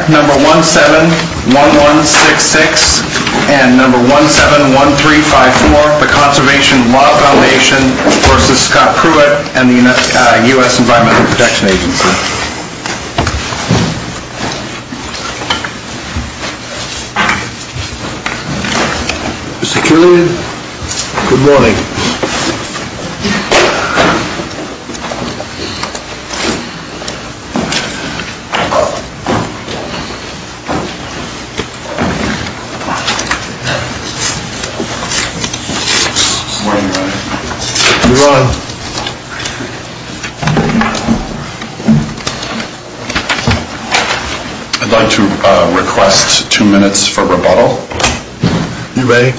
Act No. 171166 and No. 171354, the Conservation Law Foundation v. Scott Pruitt and the U.S. Environmental Protection Agency. Mr. Killian, good morning. I'd like to request two minutes for rebuttal. You may.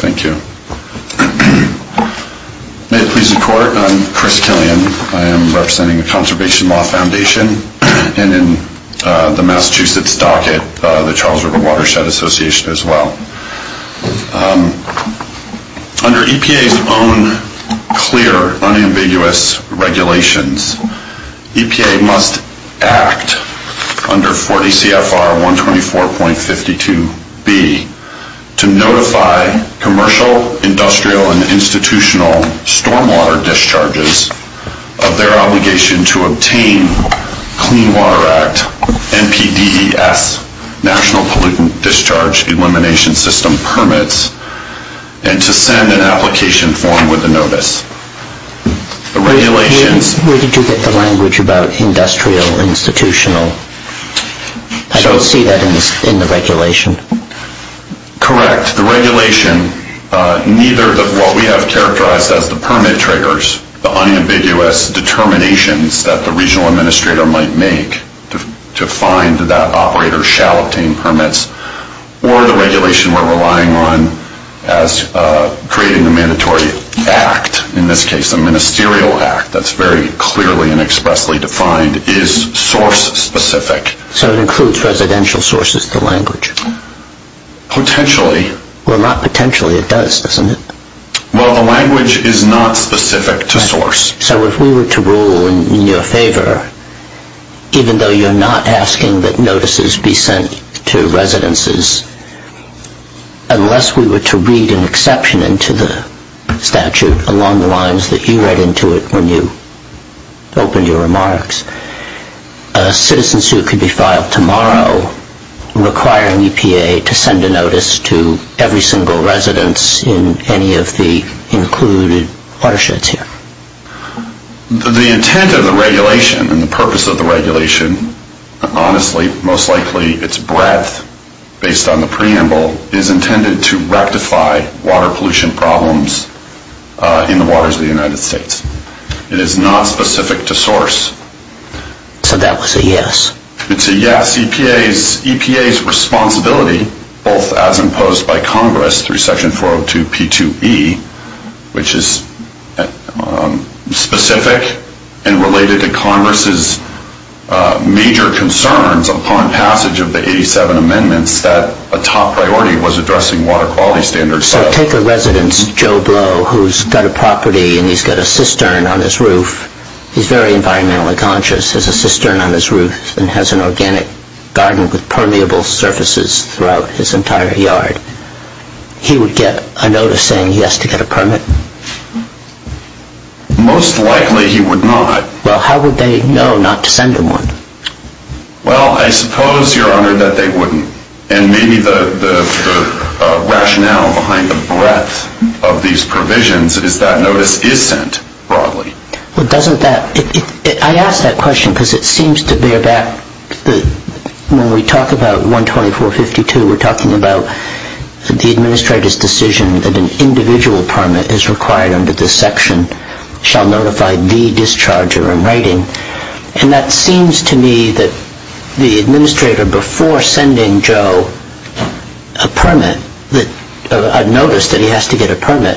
Thank you. May it please the Court, I'm Chris Killian. I am representing the Conservation Law Foundation and in the Massachusetts docket the Charles River Watershed Association as well. Under EPA's own clear, unambiguous regulations, EPA must act under 40 CFR 124.52b to notify commercial, industrial, and institutional stormwater discharges of their obligation to obtain Clean Water Act, NPDES, National Pollutant Discharge Elimination System, permit. And to send an application form with a notice. Where did you get the language about industrial, institutional? I don't see that in the regulation. Correct. The regulation, neither of what we have characterized as the permit triggers, the unambiguous determinations that the regional administrator might make to find that operator shall obtain permits, or the regulation we're relying on as creating a mandatory act, in this case a ministerial act, that's very clearly and expressly defined, is source specific. So it includes residential sources of the language? Potentially. Well, not potentially, it does, doesn't it? Well, the language is not specific to source. So if we were to rule in your favor, even though you're not asking that notices be sent to residences, unless we were to read an exception into the statute along the lines that you read into it when you opened your remarks, a citizen suit could be filed tomorrow requiring EPA to send a notice to every single residence in any of the included watersheds here. The intent of the regulation and the purpose of the regulation, honestly, most likely its breadth, based on the preamble, is intended to rectify water pollution problems in the waters of the United States. It is not specific to source. So that was a yes? It's a yes. EPA's responsibility, both as imposed by Congress through section 402 P2E, which is specific and related to Congress's major concerns upon passage of the 87 amendments, that a top priority was addressing water quality standards. So take a residence, Joe Blow, who's got a property and he's got a cistern on his roof. He's very environmentally conscious, has a cistern on his roof and has an organic garden with permeable surfaces throughout his entire yard. He would get a notice saying he has to get a permit? Most likely he would not. Well, how would they know not to send him one? Well, I suppose, Your Honor, that they wouldn't. And maybe the rationale behind the breadth of these provisions is that notice is sent broadly. Well, doesn't that – I ask that question because it seems to bear back – when we talk about 124.52, we're talking about the administrator's decision that an individual permit is required under this section, shall notify the discharger in writing. And that seems to me that the administrator, before sending Joe a notice that he has to get a permit,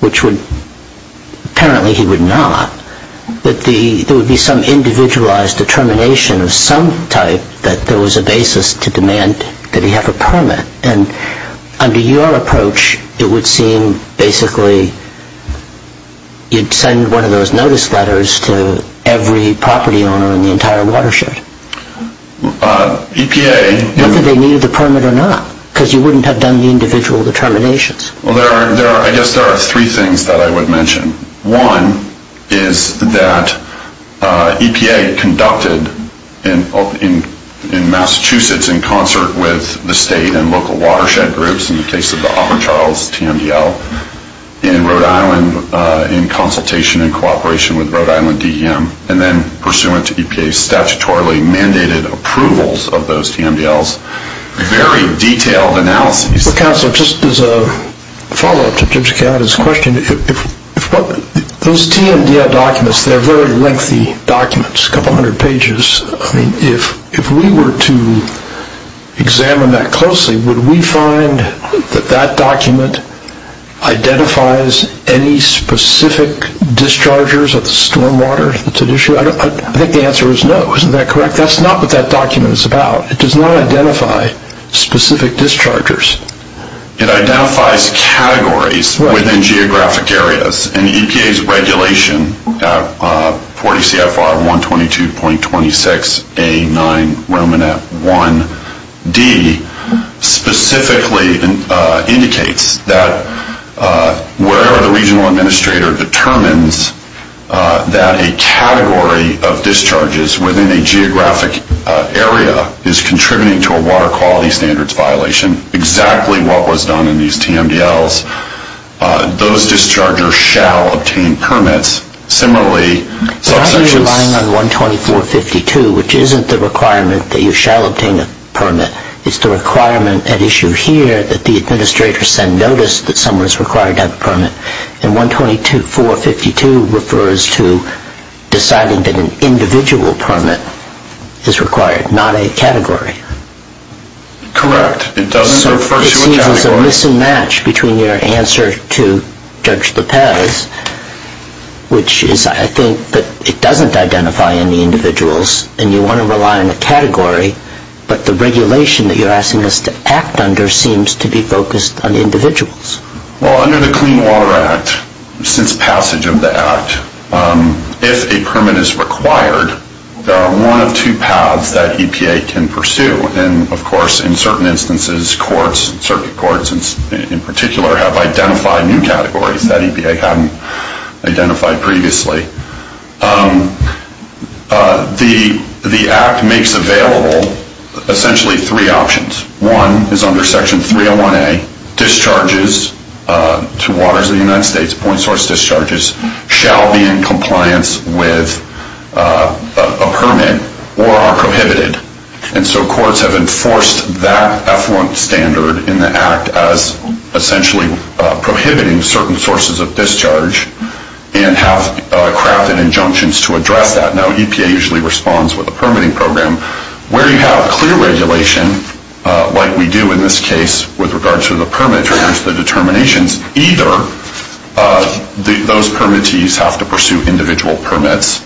which apparently he would not, that there would be some individualized determination of some type that there was a basis to demand that he have a permit. And under your approach, it would seem basically you'd send one of those notice letters to every property owner in the entire watershed. EPA – Whether they needed the permit or not, because you wouldn't have done the individual determinations. Well, there are – I guess there are three things that I would mention. One is that EPA conducted in Massachusetts in concert with the state and local watershed groups, in the case of the Upper Charles TMDL, in Rhode Island in consultation and cooperation with Rhode Island DEM, and then pursuant to EPA's statutorily mandated approvals of those TMDLs, very detailed analyses – Counselor, just as a follow-up to Judge Gallagher's question, those TMDL documents, they're very lengthy documents, a couple hundred pages. If we were to examine that closely, would we find that that document identifies any specific dischargers of the stormwater that's at issue? I think the answer is no. Isn't that correct? That's not what that document is about. It does not identify specific dischargers. It identifies categories within geographic areas. And EPA's regulation, 40 CFR 122.26A9 Romanet 1D, specifically indicates that wherever the regional administrator determines that a category of discharges within a geographic area is contributing to a water quality standards violation, exactly what was done in these TMDLs, those dischargers shall obtain permits. Similarly – Why are you relying on 124.52, which isn't the requirement that you shall obtain a permit? It's the requirement at issue here that the administrator send notice that someone is required to have a permit. And 124.52 refers to deciding that an individual permit is required, not a category. Correct. It doesn't refer to a category. There's a mismatch between your answer to Judge Lopez, which is I think that it doesn't identify any individuals, and you want to rely on a category, but the regulation that you're asking us to act under seems to be focused on individuals. Well, under the Clean Water Act, since passage of the Act, if a permit is required, there are one of two paths that EPA can pursue. And, of course, in certain instances, courts, circuit courts in particular, have identified new categories that EPA hadn't identified previously. The Act makes available essentially three options. One is under Section 301A, discharges to waters of the United States, point source discharges, shall be in compliance with a permit or are prohibited. And so courts have enforced that effluent standard in the Act as essentially prohibiting certain sources of discharge and have crafted injunctions to address that. Now, EPA usually responds with a permitting program. Where you have clear regulation, like we do in this case with regard to the permit, with regard to the determinations, either those permittees have to pursue individual permits,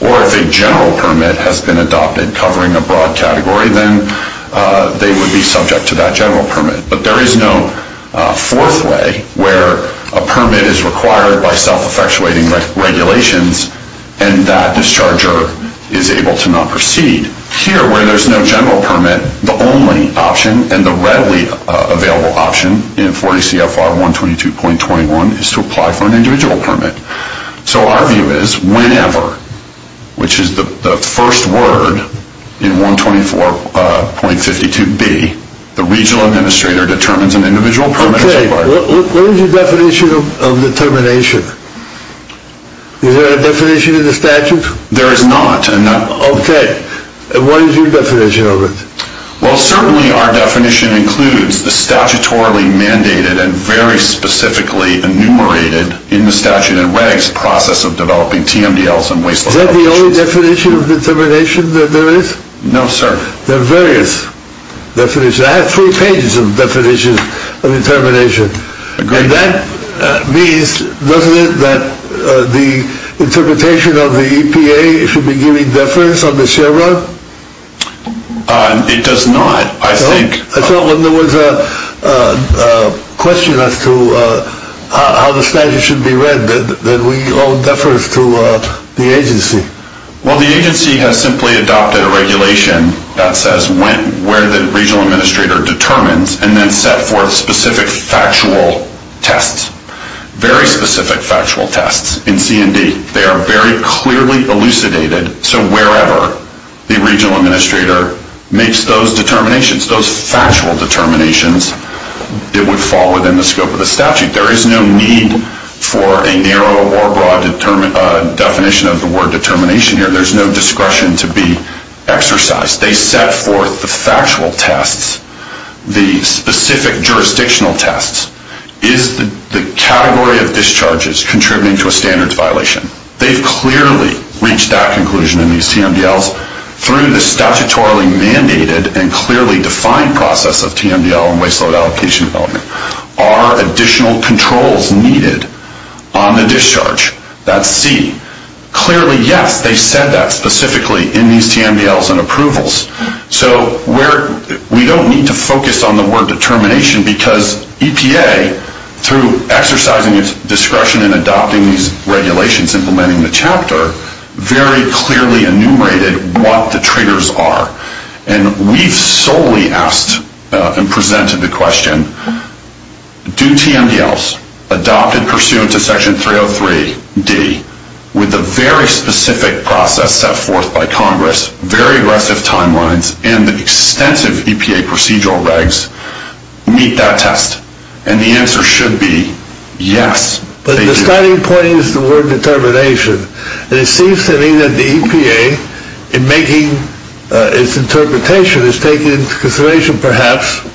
or if a general permit has been adopted covering a broad category, then they would be subject to that general permit. But there is no fourth way where a permit is required by self-effectuating regulations and that discharger is able to not proceed. Here, where there's no general permit, the only option and the readily available option in 40 CFR 122.21 is to apply for an individual permit. So our view is whenever, which is the first word in 124.52B, the regional administrator determines an individual permit is required. Okay, what is your definition of determination? Is there a definition in the statute? There is not. Okay, and what is your definition of it? Well, certainly our definition includes the statutorily mandated and very specifically enumerated in the statute and regs process of developing TMDLs and wasteful applications. Is that the only definition of determination that there is? No, sir. There are various definitions. I have three pages of definitions of determination. Agreed. And that means, doesn't it, that the interpretation of the EPA should be giving deference on the share run? It does not, I think. I thought when there was a question as to how the statute should be read, that we owe deference to the agency. Well, the agency has simply adopted a regulation that says where the regional administrator determines and then set forth specific factual tests, very specific factual tests in C&D. They are very clearly elucidated. So wherever the regional administrator makes those determinations, those factual determinations, it would fall within the scope of the statute. There is no need for a narrow or broad definition of the word determination here. There is no discretion to be exercised. They set forth the factual tests, the specific jurisdictional tests. Is the category of discharges contributing to a standards violation? They've clearly reached that conclusion in these TMDLs through the statutorily mandated and clearly defined process of TMDL and waste load allocation development. Are additional controls needed on the discharge? That's C. Clearly, yes, they said that specifically in these TMDLs and approvals. So we don't need to focus on the word determination because EPA, through exercising its discretion in adopting these regulations, implementing the chapter, very clearly enumerated what the triggers are. And we've solely asked and presented the question, do TMDLs adopted pursuant to Section 303D with the very specific process set forth by Congress, very aggressive timelines, and the extensive EPA procedural regs, meet that test? And the answer should be yes, they do. The starting point is the word determination. And it seems to me that the EPA, in making its interpretation, is taking into consideration, perhaps,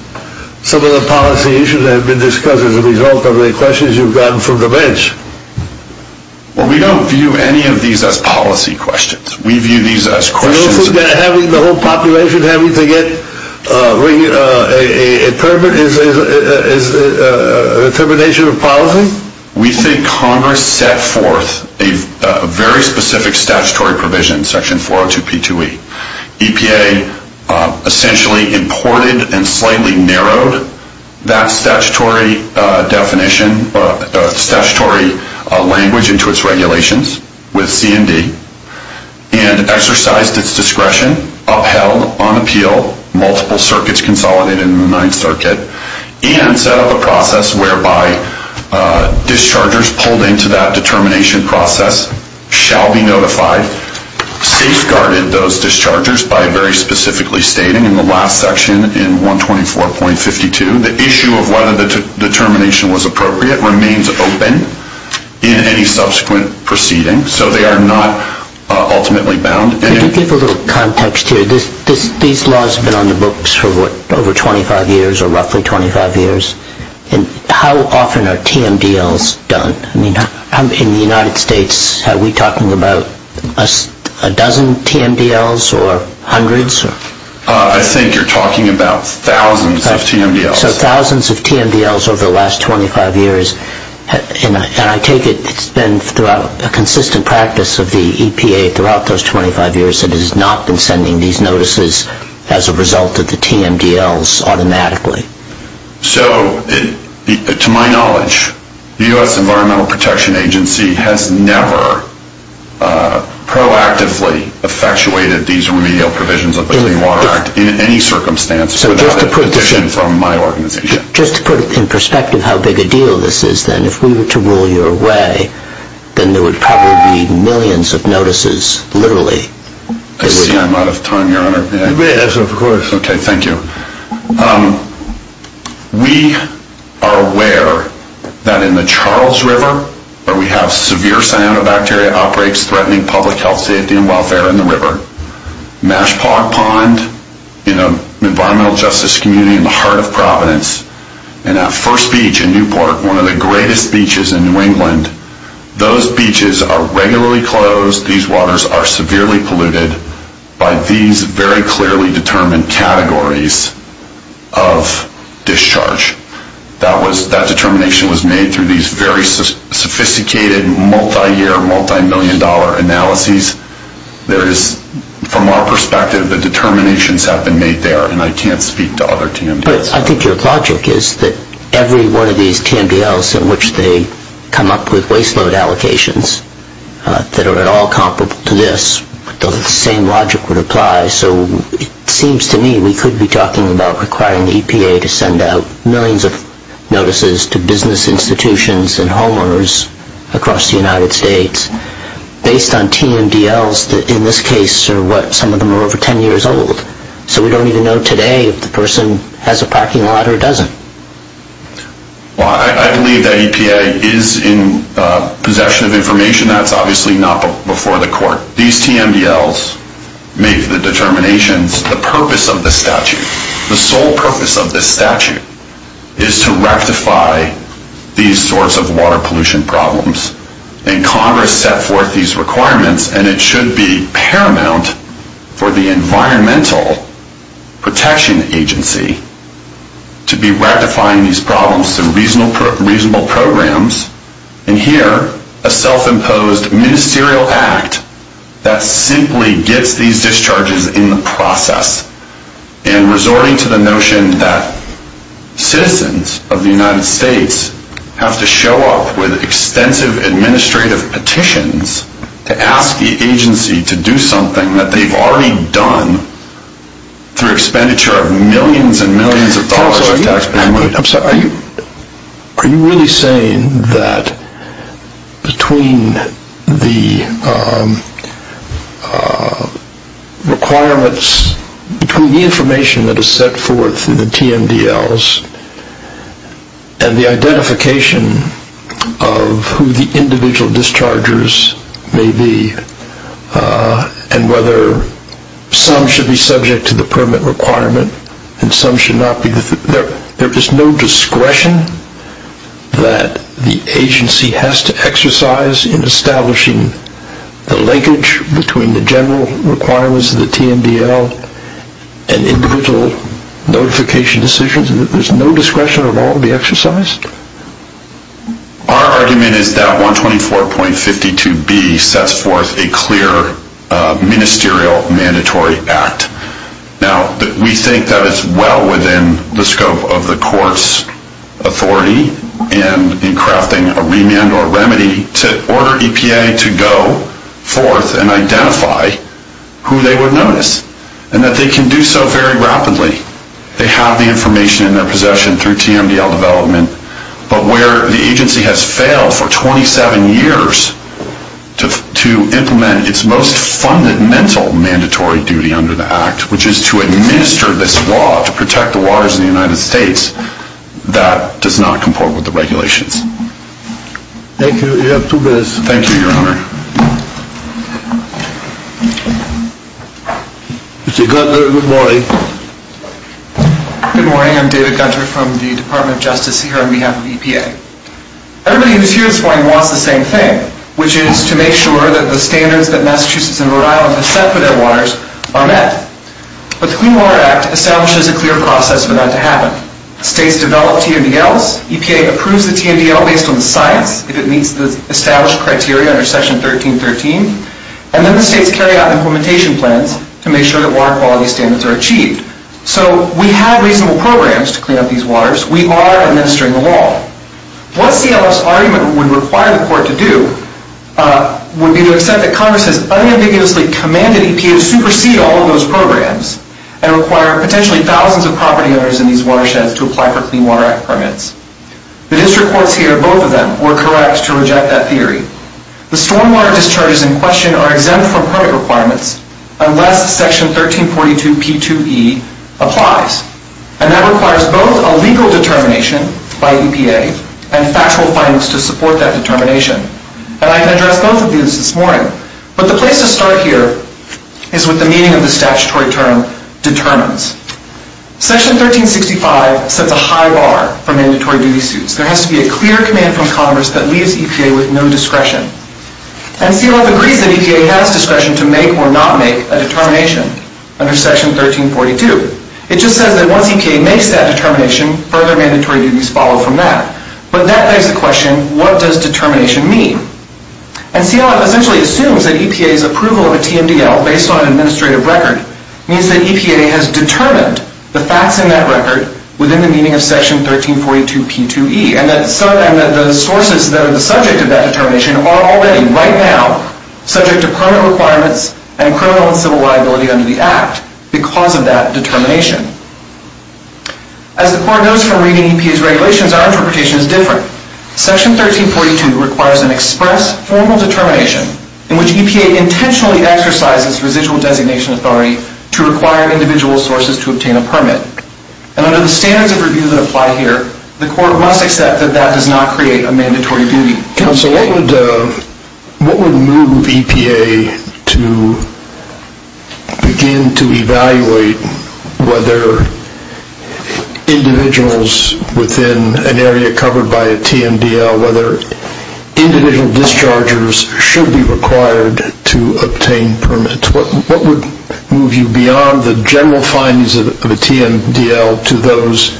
some of the policy issues that have been discussed as a result of the questions you've gotten from the bench. Well, we don't view any of these as policy questions. We view these as questions. So you don't think that having the whole population having to get a determination of policy? We think Congress set forth a very specific statutory provision, Section 402P2E. EPA essentially imported and slightly narrowed that statutory definition, statutory language, into its regulations with CMD and exercised its discretion, upheld on appeal, multiple circuits consolidated in the Ninth Circuit, and set up a process whereby dischargers pulled into that determination process shall be notified, safeguarded those dischargers by very specifically stating in the last section in 124.52, the issue of whether the determination was appropriate remains open in any subsequent proceeding. So they are not ultimately bound. Could you give a little context here? These laws have been on the books for what, over 25 years or roughly 25 years? And how often are TMDLs done? I mean, in the United States, are we talking about a dozen TMDLs or hundreds? I think you're talking about thousands of TMDLs. So thousands of TMDLs over the last 25 years. And I take it it's been a consistent practice of the EPA throughout those 25 years that it has not been sending these notices as a result of the TMDLs automatically. So, to my knowledge, the U.S. Environmental Protection Agency has never proactively effectuated these remedial provisions of the Clean Water Act in any circumstance without a petition from my organization. Just to put it in perspective how big a deal this is then, if we were to rule your way, then there would probably be millions of notices, literally. I see I'm out of time, Your Honor. Yes, of course. Okay, thank you. We are aware that in the Charles River, where we have severe cyanobacteria outbreaks threatening public health, safety, and welfare in the river, Mashpog Pond, an environmental justice community in the heart of Providence, and at First Beach in Newport, one of the greatest beaches in New England, those beaches are regularly closed. These waters are severely polluted by these very clearly determined categories of discharge. That determination was made through these very sophisticated, multi-year, multi-million dollar analyses. From our perspective, the determinations have been made there, and I can't speak to other TMDLs. I think your logic is that every one of these TMDLs in which they come up with waste load allocations that are at all comparable to this, the same logic would apply. So it seems to me we could be talking about requiring the EPA to send out millions of notices to business institutions and homeowners across the United States based on TMDLs that in this case are what some of them are over 10 years old. So we don't even know today if the person has a parking lot or doesn't. Well, I believe that EPA is in possession of information. That's obviously not before the court. These TMDLs make the determinations. The purpose of this statute, the sole purpose of this statute, is to rectify these sorts of water pollution problems. And Congress set forth these requirements, and it should be paramount for the Environmental Protection Agency to be rectifying these problems through reasonable programs. And here, a self-imposed ministerial act that simply gets these discharges in the process. And resorting to the notion that citizens of the United States have to show up with extensive administrative petitions to ask the agency to do something that they've already done through expenditure of millions and millions of dollars in taxpayer money. Are you really saying that between the requirements, between the information that is set forth in the TMDLs and the identification of who the individual dischargers may be and whether some should be subject to the permit requirement and some should not be, there is no discretion that the agency has to exercise in establishing the linkage between the general requirements of the TMDL and individual notification decisions? There's no discretion at all to be exercised? Our argument is that 124.52B sets forth a clear ministerial mandatory act. Now, we think that it's well within the scope of the court's authority in crafting a remand or remedy to order EPA to go forth and identify who they would notice. And that they can do so very rapidly. They have the information in their possession through TMDL development. But where the agency has failed for 27 years to implement its most fundamental mandatory duty under the act, which is to administer this law to protect the waters of the United States, that does not comport with the regulations. Thank you. You have two minutes. Thank you, Your Honor. Mr. Gunter, good morning. Good morning. I'm David Gunter from the Department of Justice here on behalf of EPA. Everybody who's here this morning wants the same thing, which is to make sure that the standards that Massachusetts and Rhode Island have set for their waters are met. But the Clean Water Act establishes a clear process for that to happen. States develop TMDLs. EPA approves the TMDL based on the science, if it meets the established criteria under Section 1313. And then the states carry out implementation plans to make sure that water quality standards are achieved. So we have reasonable programs to clean up these waters. We are administering the law. What CLF's argument would require the court to do would be to accept that Congress has unambiguously commanded EPA to supersede all of those programs and require potentially thousands of property owners in these watersheds to apply for Clean Water Act permits. The district courts here, both of them, were correct to reject that theory. The stormwater discharges in question are exempt from permit requirements unless Section 1342 P2E applies. And that requires both a legal determination by EPA and factual findings to support that determination. And I've addressed both of these this morning. But the place to start here is with the meaning of the statutory term determines. Section 1365 sets a high bar for mandatory duty suits. There has to be a clear command from Congress that leaves EPA with no discretion. And CLF agrees that EPA has discretion to make or not make a determination under Section 1342. It just says that once EPA makes that determination, further mandatory duties follow from that. But that begs the question, what does determination mean? And CLF essentially assumes that EPA's approval of a TMDL based on an administrative record means that EPA has determined the facts in that record within the meaning of Section 1342 P2E. And that the sources that are the subject of that determination are already, right now, subject to permit requirements and criminal and civil liability under the Act because of that determination. As the Court goes from reading EPA's regulations, our interpretation is different. Section 1342 requires an express formal determination in which EPA intentionally exercises residual designation authority to require individual sources to obtain a permit. And under the standards of review that apply here, the Court must accept that that does not create a mandatory duty. Counsel, what would move EPA to begin to evaluate whether individuals within an area covered by a TMDL, whether individual dischargers should be required to obtain permits? What would move you beyond the general findings of a TMDL to those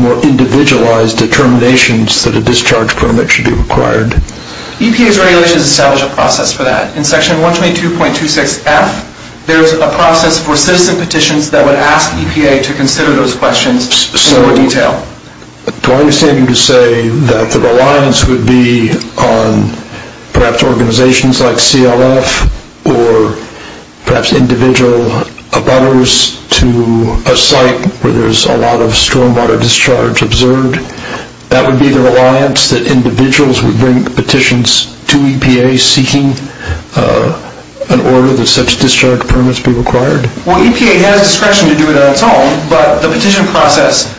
more individualized determinations that a discharge permit should be required? EPA's regulations establish a process for that. In Section 122.26F, there's a process for citizen petitions that would ask EPA to consider those questions in more detail. So, do I understand you to say that the reliance would be on perhaps organizations like CLF or perhaps individual abutters to a site where there's a lot of stormwater discharge observed? That would be the reliance that individuals would bring petitions to EPA seeking an order that such discharge permits be required? Well, EPA has discretion to do it on its own, but the petition process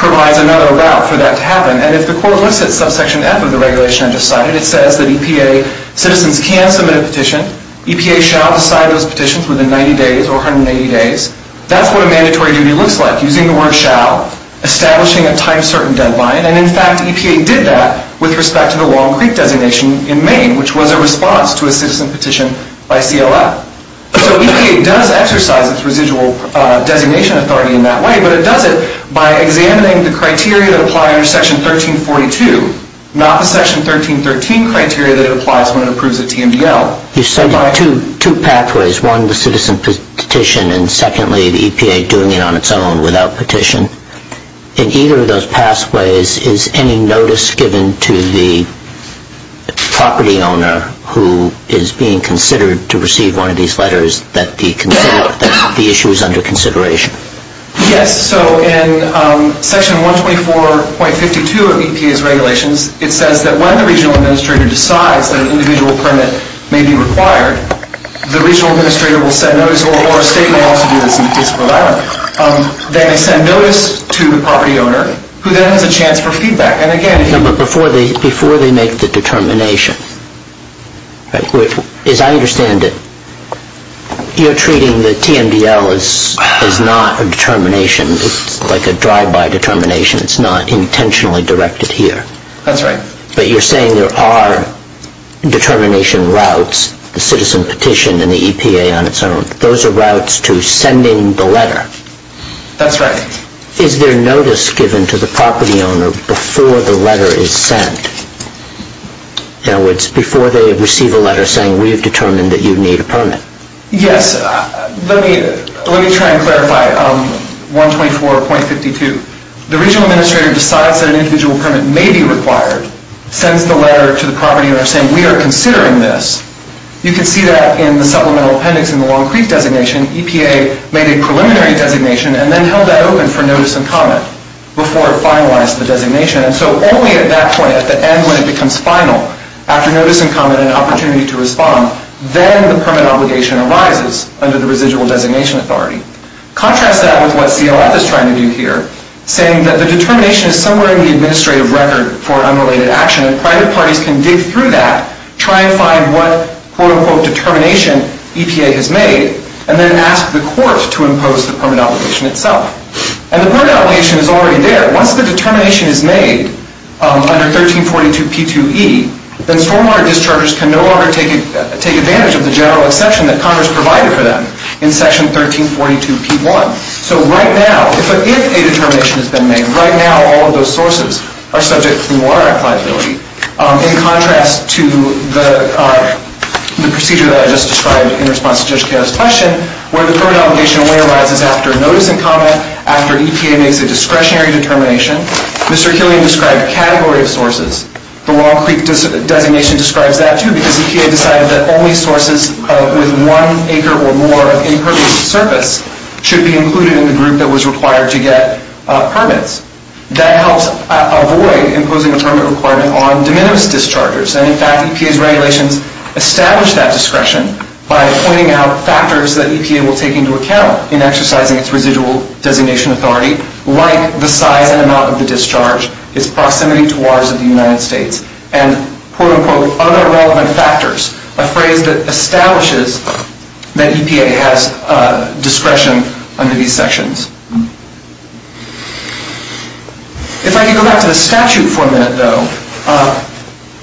provides another route for that to happen. And if the Court looks at subsection F of the regulation I just cited, it says that EPA citizens can submit a petition. EPA shall decide those petitions within 90 days or 180 days. That's what a mandatory duty looks like, using the word shall, establishing a time-certain deadline. And, in fact, EPA did that with respect to the Long Creek designation in Maine, which was a response to a citizen petition by CLF. So EPA does exercise its residual designation authority in that way, but it does it by examining the criteria that apply under Section 1342, not the Section 1313 criteria that it applies when it approves a TMDL. You cited two pathways, one the citizen petition and, secondly, the EPA doing it on its own without petition. In either of those pathways, is any notice given to the property owner who is being considered to receive one of these letters that the issue is under consideration? Yes, so in Section 124.52 of EPA's regulations, it says that when the regional administrator decides that an individual permit may be required, the regional administrator will send notice, or a state may also do this in the case of Rhode Island. They may send notice to the property owner, who then has a chance for feedback. And, again, if you… No, but before they make the determination, as I understand it, you're treating the TMDL as not a determination, like a drive-by determination. It's not intentionally directed here. That's right. But you're saying there are determination routes, the citizen petition and the EPA on its own. Those are routes to sending the letter. That's right. Is there notice given to the property owner before the letter is sent? In other words, before they receive a letter saying, we've determined that you need a permit. Yes, let me try and clarify 124.52. The regional administrator decides that an individual permit may be required, sends the letter to the property owner saying, we are considering this. You can see that in the supplemental appendix in the Long Creek designation. EPA made a preliminary designation and then held that open for notice and comment before it finalized the designation. And so only at that point, at the end when it becomes final, after notice and comment and opportunity to respond, then the permit obligation arises under the residual designation authority. Contrast that with what CLF is trying to do here, saying that the determination is somewhere in the administrative record for unrelated action, and private parties can dig through that, try and find what quote-unquote determination EPA has made, and then ask the court to impose the permit obligation itself. And the permit obligation is already there. Once the determination is made under 1342P2E, then stormwater dischargers can no longer take advantage of the general exception that Congress provided for them in section 1342P1. So right now, if a determination has been made, right now all of those sources are subject to water applicability. In contrast to the procedure that I just described in response to Judge Kato's question, where the permit obligation only arises after notice and comment, after EPA makes a discretionary determination, Mr. Hillian described a category of sources. The Long Creek designation describes that too, because EPA decided that only sources with one acre or more of impervious surface should be included in the group that was required to get permits. That helps avoid imposing a permit requirement on de minimis dischargers. And in fact, EPA's regulations establish that discretion by pointing out factors that EPA will take into account in exercising its residual designation authority, like the size and amount of the discharge, its proximity to waters of the United States, and quote-unquote other relevant factors, a phrase that establishes that EPA has discretion under these sections. If I can go back to the statute for a minute, though,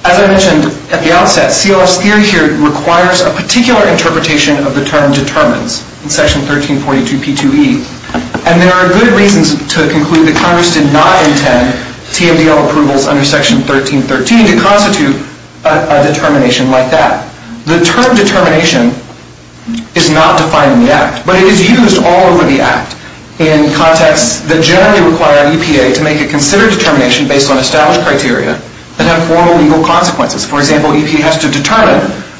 as I mentioned at the outset, CLF's theory here requires a particular interpretation of the term determines, in Section 1342P2E, and there are good reasons to conclude that Congress did not intend TMDL approvals under Section 1313 to constitute a determination like that. The term determination is not defined in the Act, but it is used all over the Act in contexts that generally require EPA to make a considered determination based on established criteria and have formal legal consequences. For example, EPA has to determine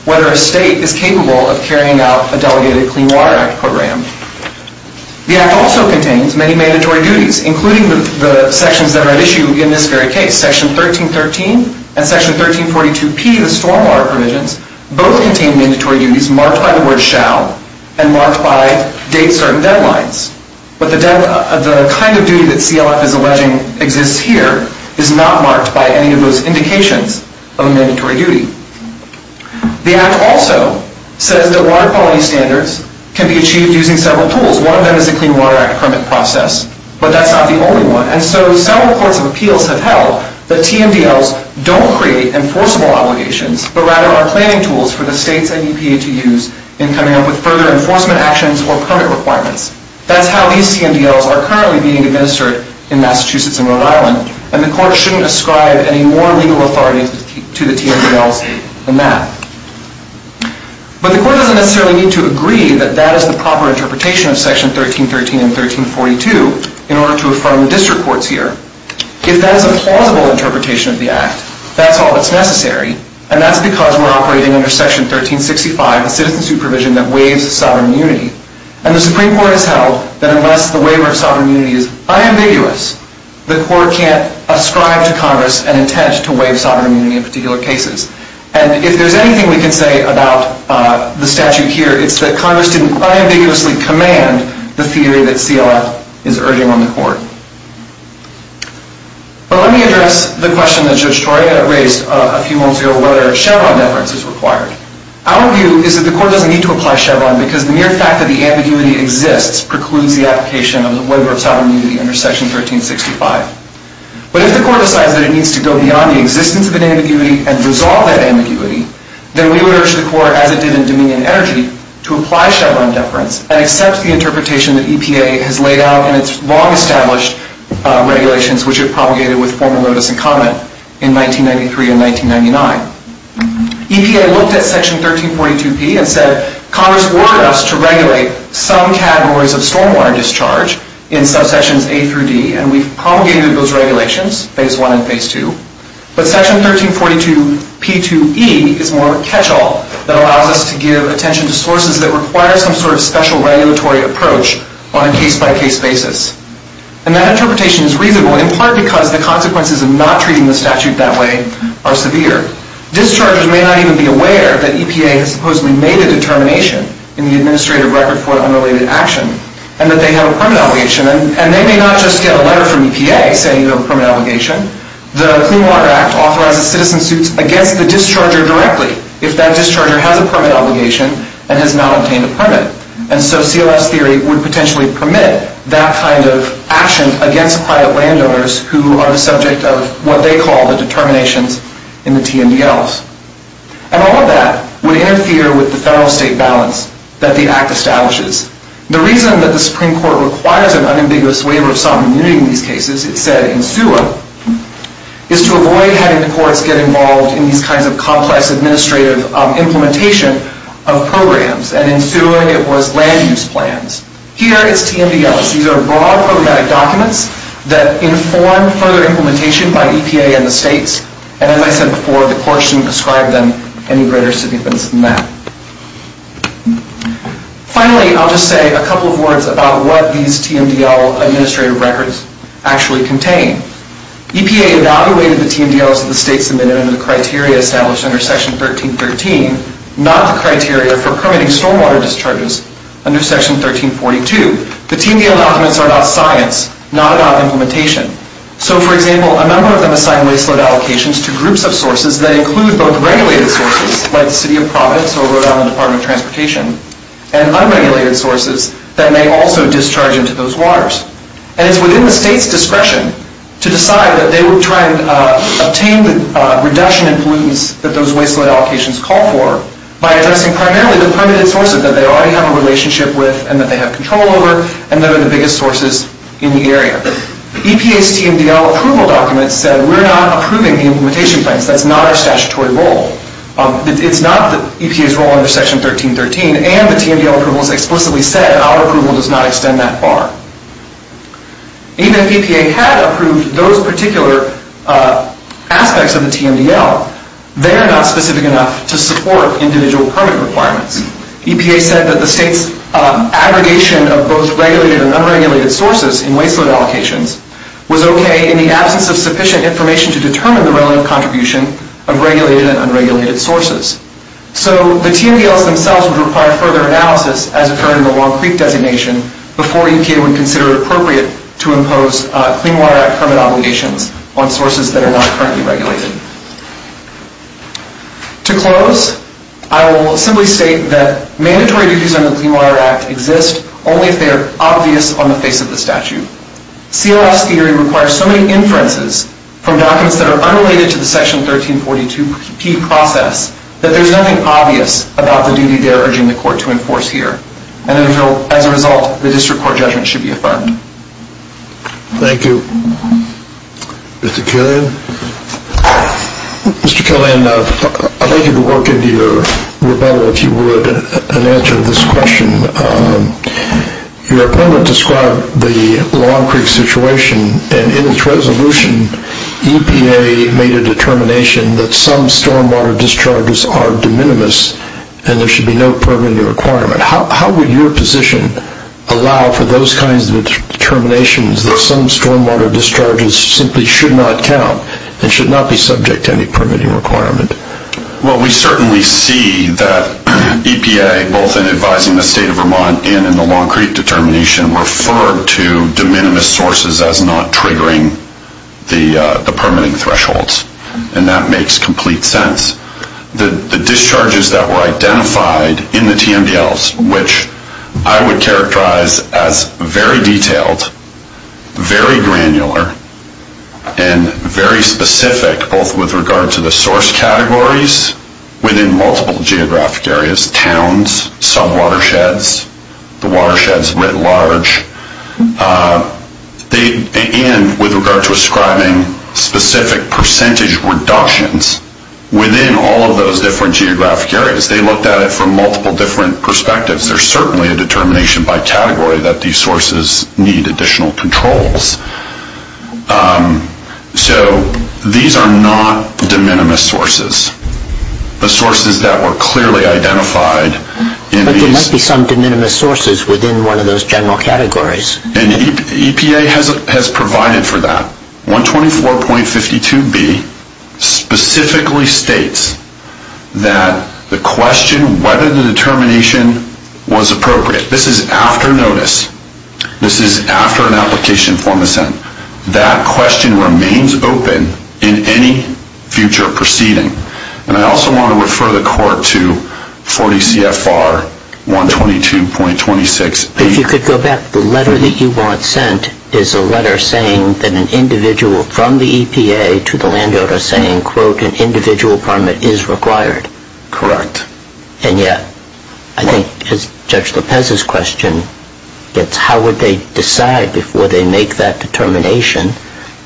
whether a state is capable of carrying out a delegated Clean Water Act program. The Act also contains many mandatory duties, including the sections that are at issue in this very case. Section 1313 and Section 1342P, the stormwater provisions, both contain mandatory duties marked by the word shall and marked by date certain deadlines. But the kind of duty that CLF is alleging exists here is not marked by any of those indications of a mandatory duty. The Act also says that water quality standards can be achieved using several tools. One of them is the Clean Water Act permit process, but that's not the only one. And so several courts of appeals have held that TMDLs don't create enforceable obligations, but rather are planning tools for the states and EPA to use in coming up with further enforcement actions or permit requirements. That's how these TMDLs are currently being administered in Massachusetts and Rhode Island, and the court shouldn't ascribe any more legal authority to the TMDLs than that. But the court doesn't necessarily need to agree that that is the proper interpretation of Section 1313 and 1342 in order to affirm the district courts here. If that is a plausible interpretation of the Act, that's all that's necessary, and that's because we're operating under Section 1365, the citizen supervision that waives sovereign immunity. And the Supreme Court has held that unless the waiver of sovereign immunity is unambiguous, the court can't ascribe to Congress an intent to waive sovereign immunity in particular cases. And if there's anything we can say about the statute here, it's that Congress didn't unambiguously command the theory that CLF is urging on the court. But let me address the question that Judge Troy raised a few moments ago, whether Chevron deference is required. Our view is that the court doesn't need to apply Chevron because the mere fact that the ambiguity exists precludes the application of the waiver of sovereign immunity under Section 1365. But if the court decides that it needs to go beyond the existence of an ambiguity and resolve that ambiguity, then we would urge the court, as it did in Dominion Energy, to apply Chevron deference and accept the interpretation that EPA has laid out in its long-established regulations, which it promulgated with formal notice and comment in 1993 and 1999. EPA looked at Section 1342P and said, Congress ordered us to regulate some categories of stormwater discharge in subsections A through D, and we've promulgated those regulations, Phase 1 and Phase 2. But Section 1342P2E is more of a catch-all that allows us to give attention to sources that require some sort of special regulatory approach on a case-by-case basis. And that interpretation is reasonable in part because the consequences of not treating the statute that way are severe. Dischargers may not even be aware that EPA has supposedly made a determination in the Administrative Record for Unrelated Action and that they have a permit obligation. And they may not just get a letter from EPA saying you have a permit obligation. The Clean Water Act authorizes citizen suits against the discharger directly if that discharger has a permit obligation and has not obtained a permit. And so CLS theory would potentially permit that kind of action against private landowners who are the subject of what they call the determinations in the TNDLs. And all of that would interfere with the federal-state balance that the Act establishes. The reason that the Supreme Court requires an unambiguous waiver of sovereignty in these cases, as it said in SUA, is to avoid having the courts get involved in these kinds of complex administrative implementation of programs. And in SUA it was land-use plans. Here it's TNDLs. These are broad programmatic documents that inform further implementation by EPA and the states. And as I said before, the court shouldn't ascribe them any greater significance than that. Finally, I'll just say a couple of words about what these TNDL administrative records actually contain. EPA evaluated the TNDLs that the states submitted under the criteria established under Section 1313, not the criteria for permitting stormwater discharges under Section 1342. The TNDL documents are about science, not about implementation. So, for example, a number of them assign waste load allocations to groups of sources that include both regulated sources, like the City of Providence or Rhode Island Department of Transportation, and unregulated sources that may also discharge into those waters. And it's within the state's discretion to decide that they would try and obtain the reduction in pollutants that those waste load allocations call for by addressing primarily the permitted sources that they already have a relationship with and that they have control over, and that are the biggest sources in the area. EPA's TNDL approval documents said we're not approving the implementation plans. That's not our statutory role. It's not EPA's role under Section 1313, and the TNDL approval is explicitly said, and our approval does not extend that far. Even if EPA had approved those particular aspects of the TNDL, they are not specific enough to support individual permit requirements. EPA said that the state's aggregation of both regulated and unregulated sources in waste load allocations was okay in the absence of sufficient information to determine the relative contribution of regulated and unregulated sources. So the TNDLs themselves would require further analysis, as occurred in the Long Creek designation, before EPA would consider it appropriate to impose Clean Water Act permit obligations on sources that are not currently regulated. To close, I will simply state that mandatory duties under the Clean Water Act exist only if they are obvious on the face of the statute. CLS theory requires so many inferences from documents that are unrelated to the Section 1342P process that there's nothing obvious about the duty they're urging the court to enforce here, and as a result, the district court judgment should be affirmed. Thank you. Mr. Killian? Mr. Killian, I'd like you to work into your rebuttal, if you would, and answer this question. Your opponent described the Long Creek situation, and in its resolution, EPA made a determination that some stormwater discharges are de minimis and there should be no permitting requirement. How would your position allow for those kinds of determinations that some stormwater discharges simply should not count and should not be subject to any permitting requirement? Well, we certainly see that EPA, both in advising the State of Vermont and in the Long Creek determination, referred to de minimis sources as not triggering the permitting thresholds, and that makes complete sense. The discharges that were identified in the TMDLs, which I would characterize as very detailed, very granular, and very specific, both with regard to the source categories within multiple geographic areas, towns, sub-watersheds, the watersheds writ large, and with regard to ascribing specific percentage reductions within all of those different geographic areas. They looked at it from multiple different perspectives. There's certainly a determination by category that these sources need additional controls. So these are not de minimis sources. The sources that were clearly identified in these... But there might be some de minimis sources within one of those general categories. And EPA has provided for that. 124.52b specifically states that the question whether the determination was appropriate. This is after notice. This is after an application form is sent. That question remains open in any future proceeding. And I also want to refer the court to 40 CFR 122.26a. If you could go back, the letter that you want sent is a letter saying that an individual from the EPA to the landowner saying, quote, an individual permit is required. Correct. And yet I think Judge Lopez's question gets how would they decide before they make that determination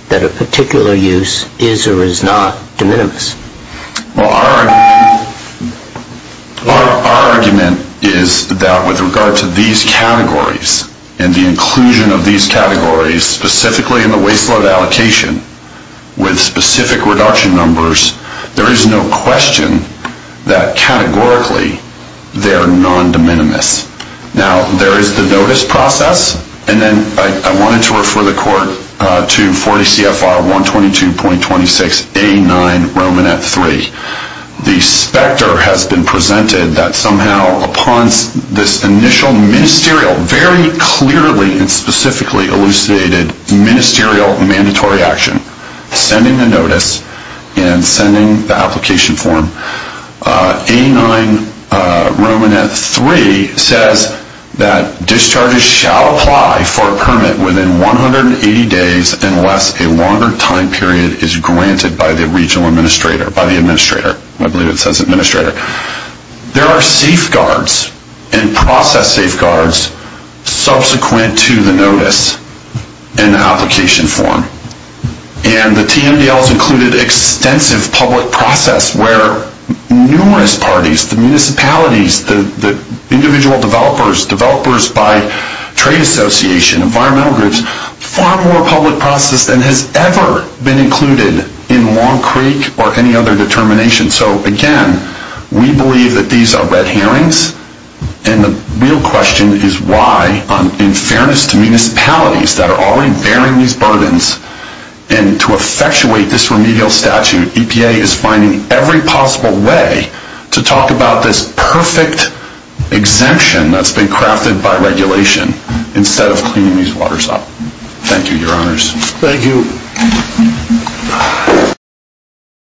that a particular use is or is not de minimis? Well, our argument is that with regard to these categories and the inclusion of these categories specifically in the waste load allocation with specific reduction numbers, there is no question that categorically they're non-de minimis. Now, there is the notice process. And then I wanted to refer the court to 40 CFR 122.26a.9, Romanette 3. The specter has been presented that somehow upon this initial ministerial, very clearly and specifically elucidated ministerial mandatory action, sending the notice and sending the application form. A9 Romanette 3 says that discharges shall apply for a permit within 180 days unless a longer time period is granted by the regional administrator, by the administrator. I believe it says administrator. There are safeguards and process safeguards subsequent to the notice and application form. And the TMDL has included extensive public process where numerous parties, the municipalities, the individual developers, developers by trade association, environmental groups, far more public process than has ever been included in Long Creek or any other determination. So, again, we believe that these are red herrings. And the real question is why, in fairness to municipalities that are already bearing these burdens and to effectuate this remedial statute, EPA is finding every possible way to talk about this perfect exemption that's been crafted by regulation instead of cleaning these waters up. Thank you, your honors. Thank you.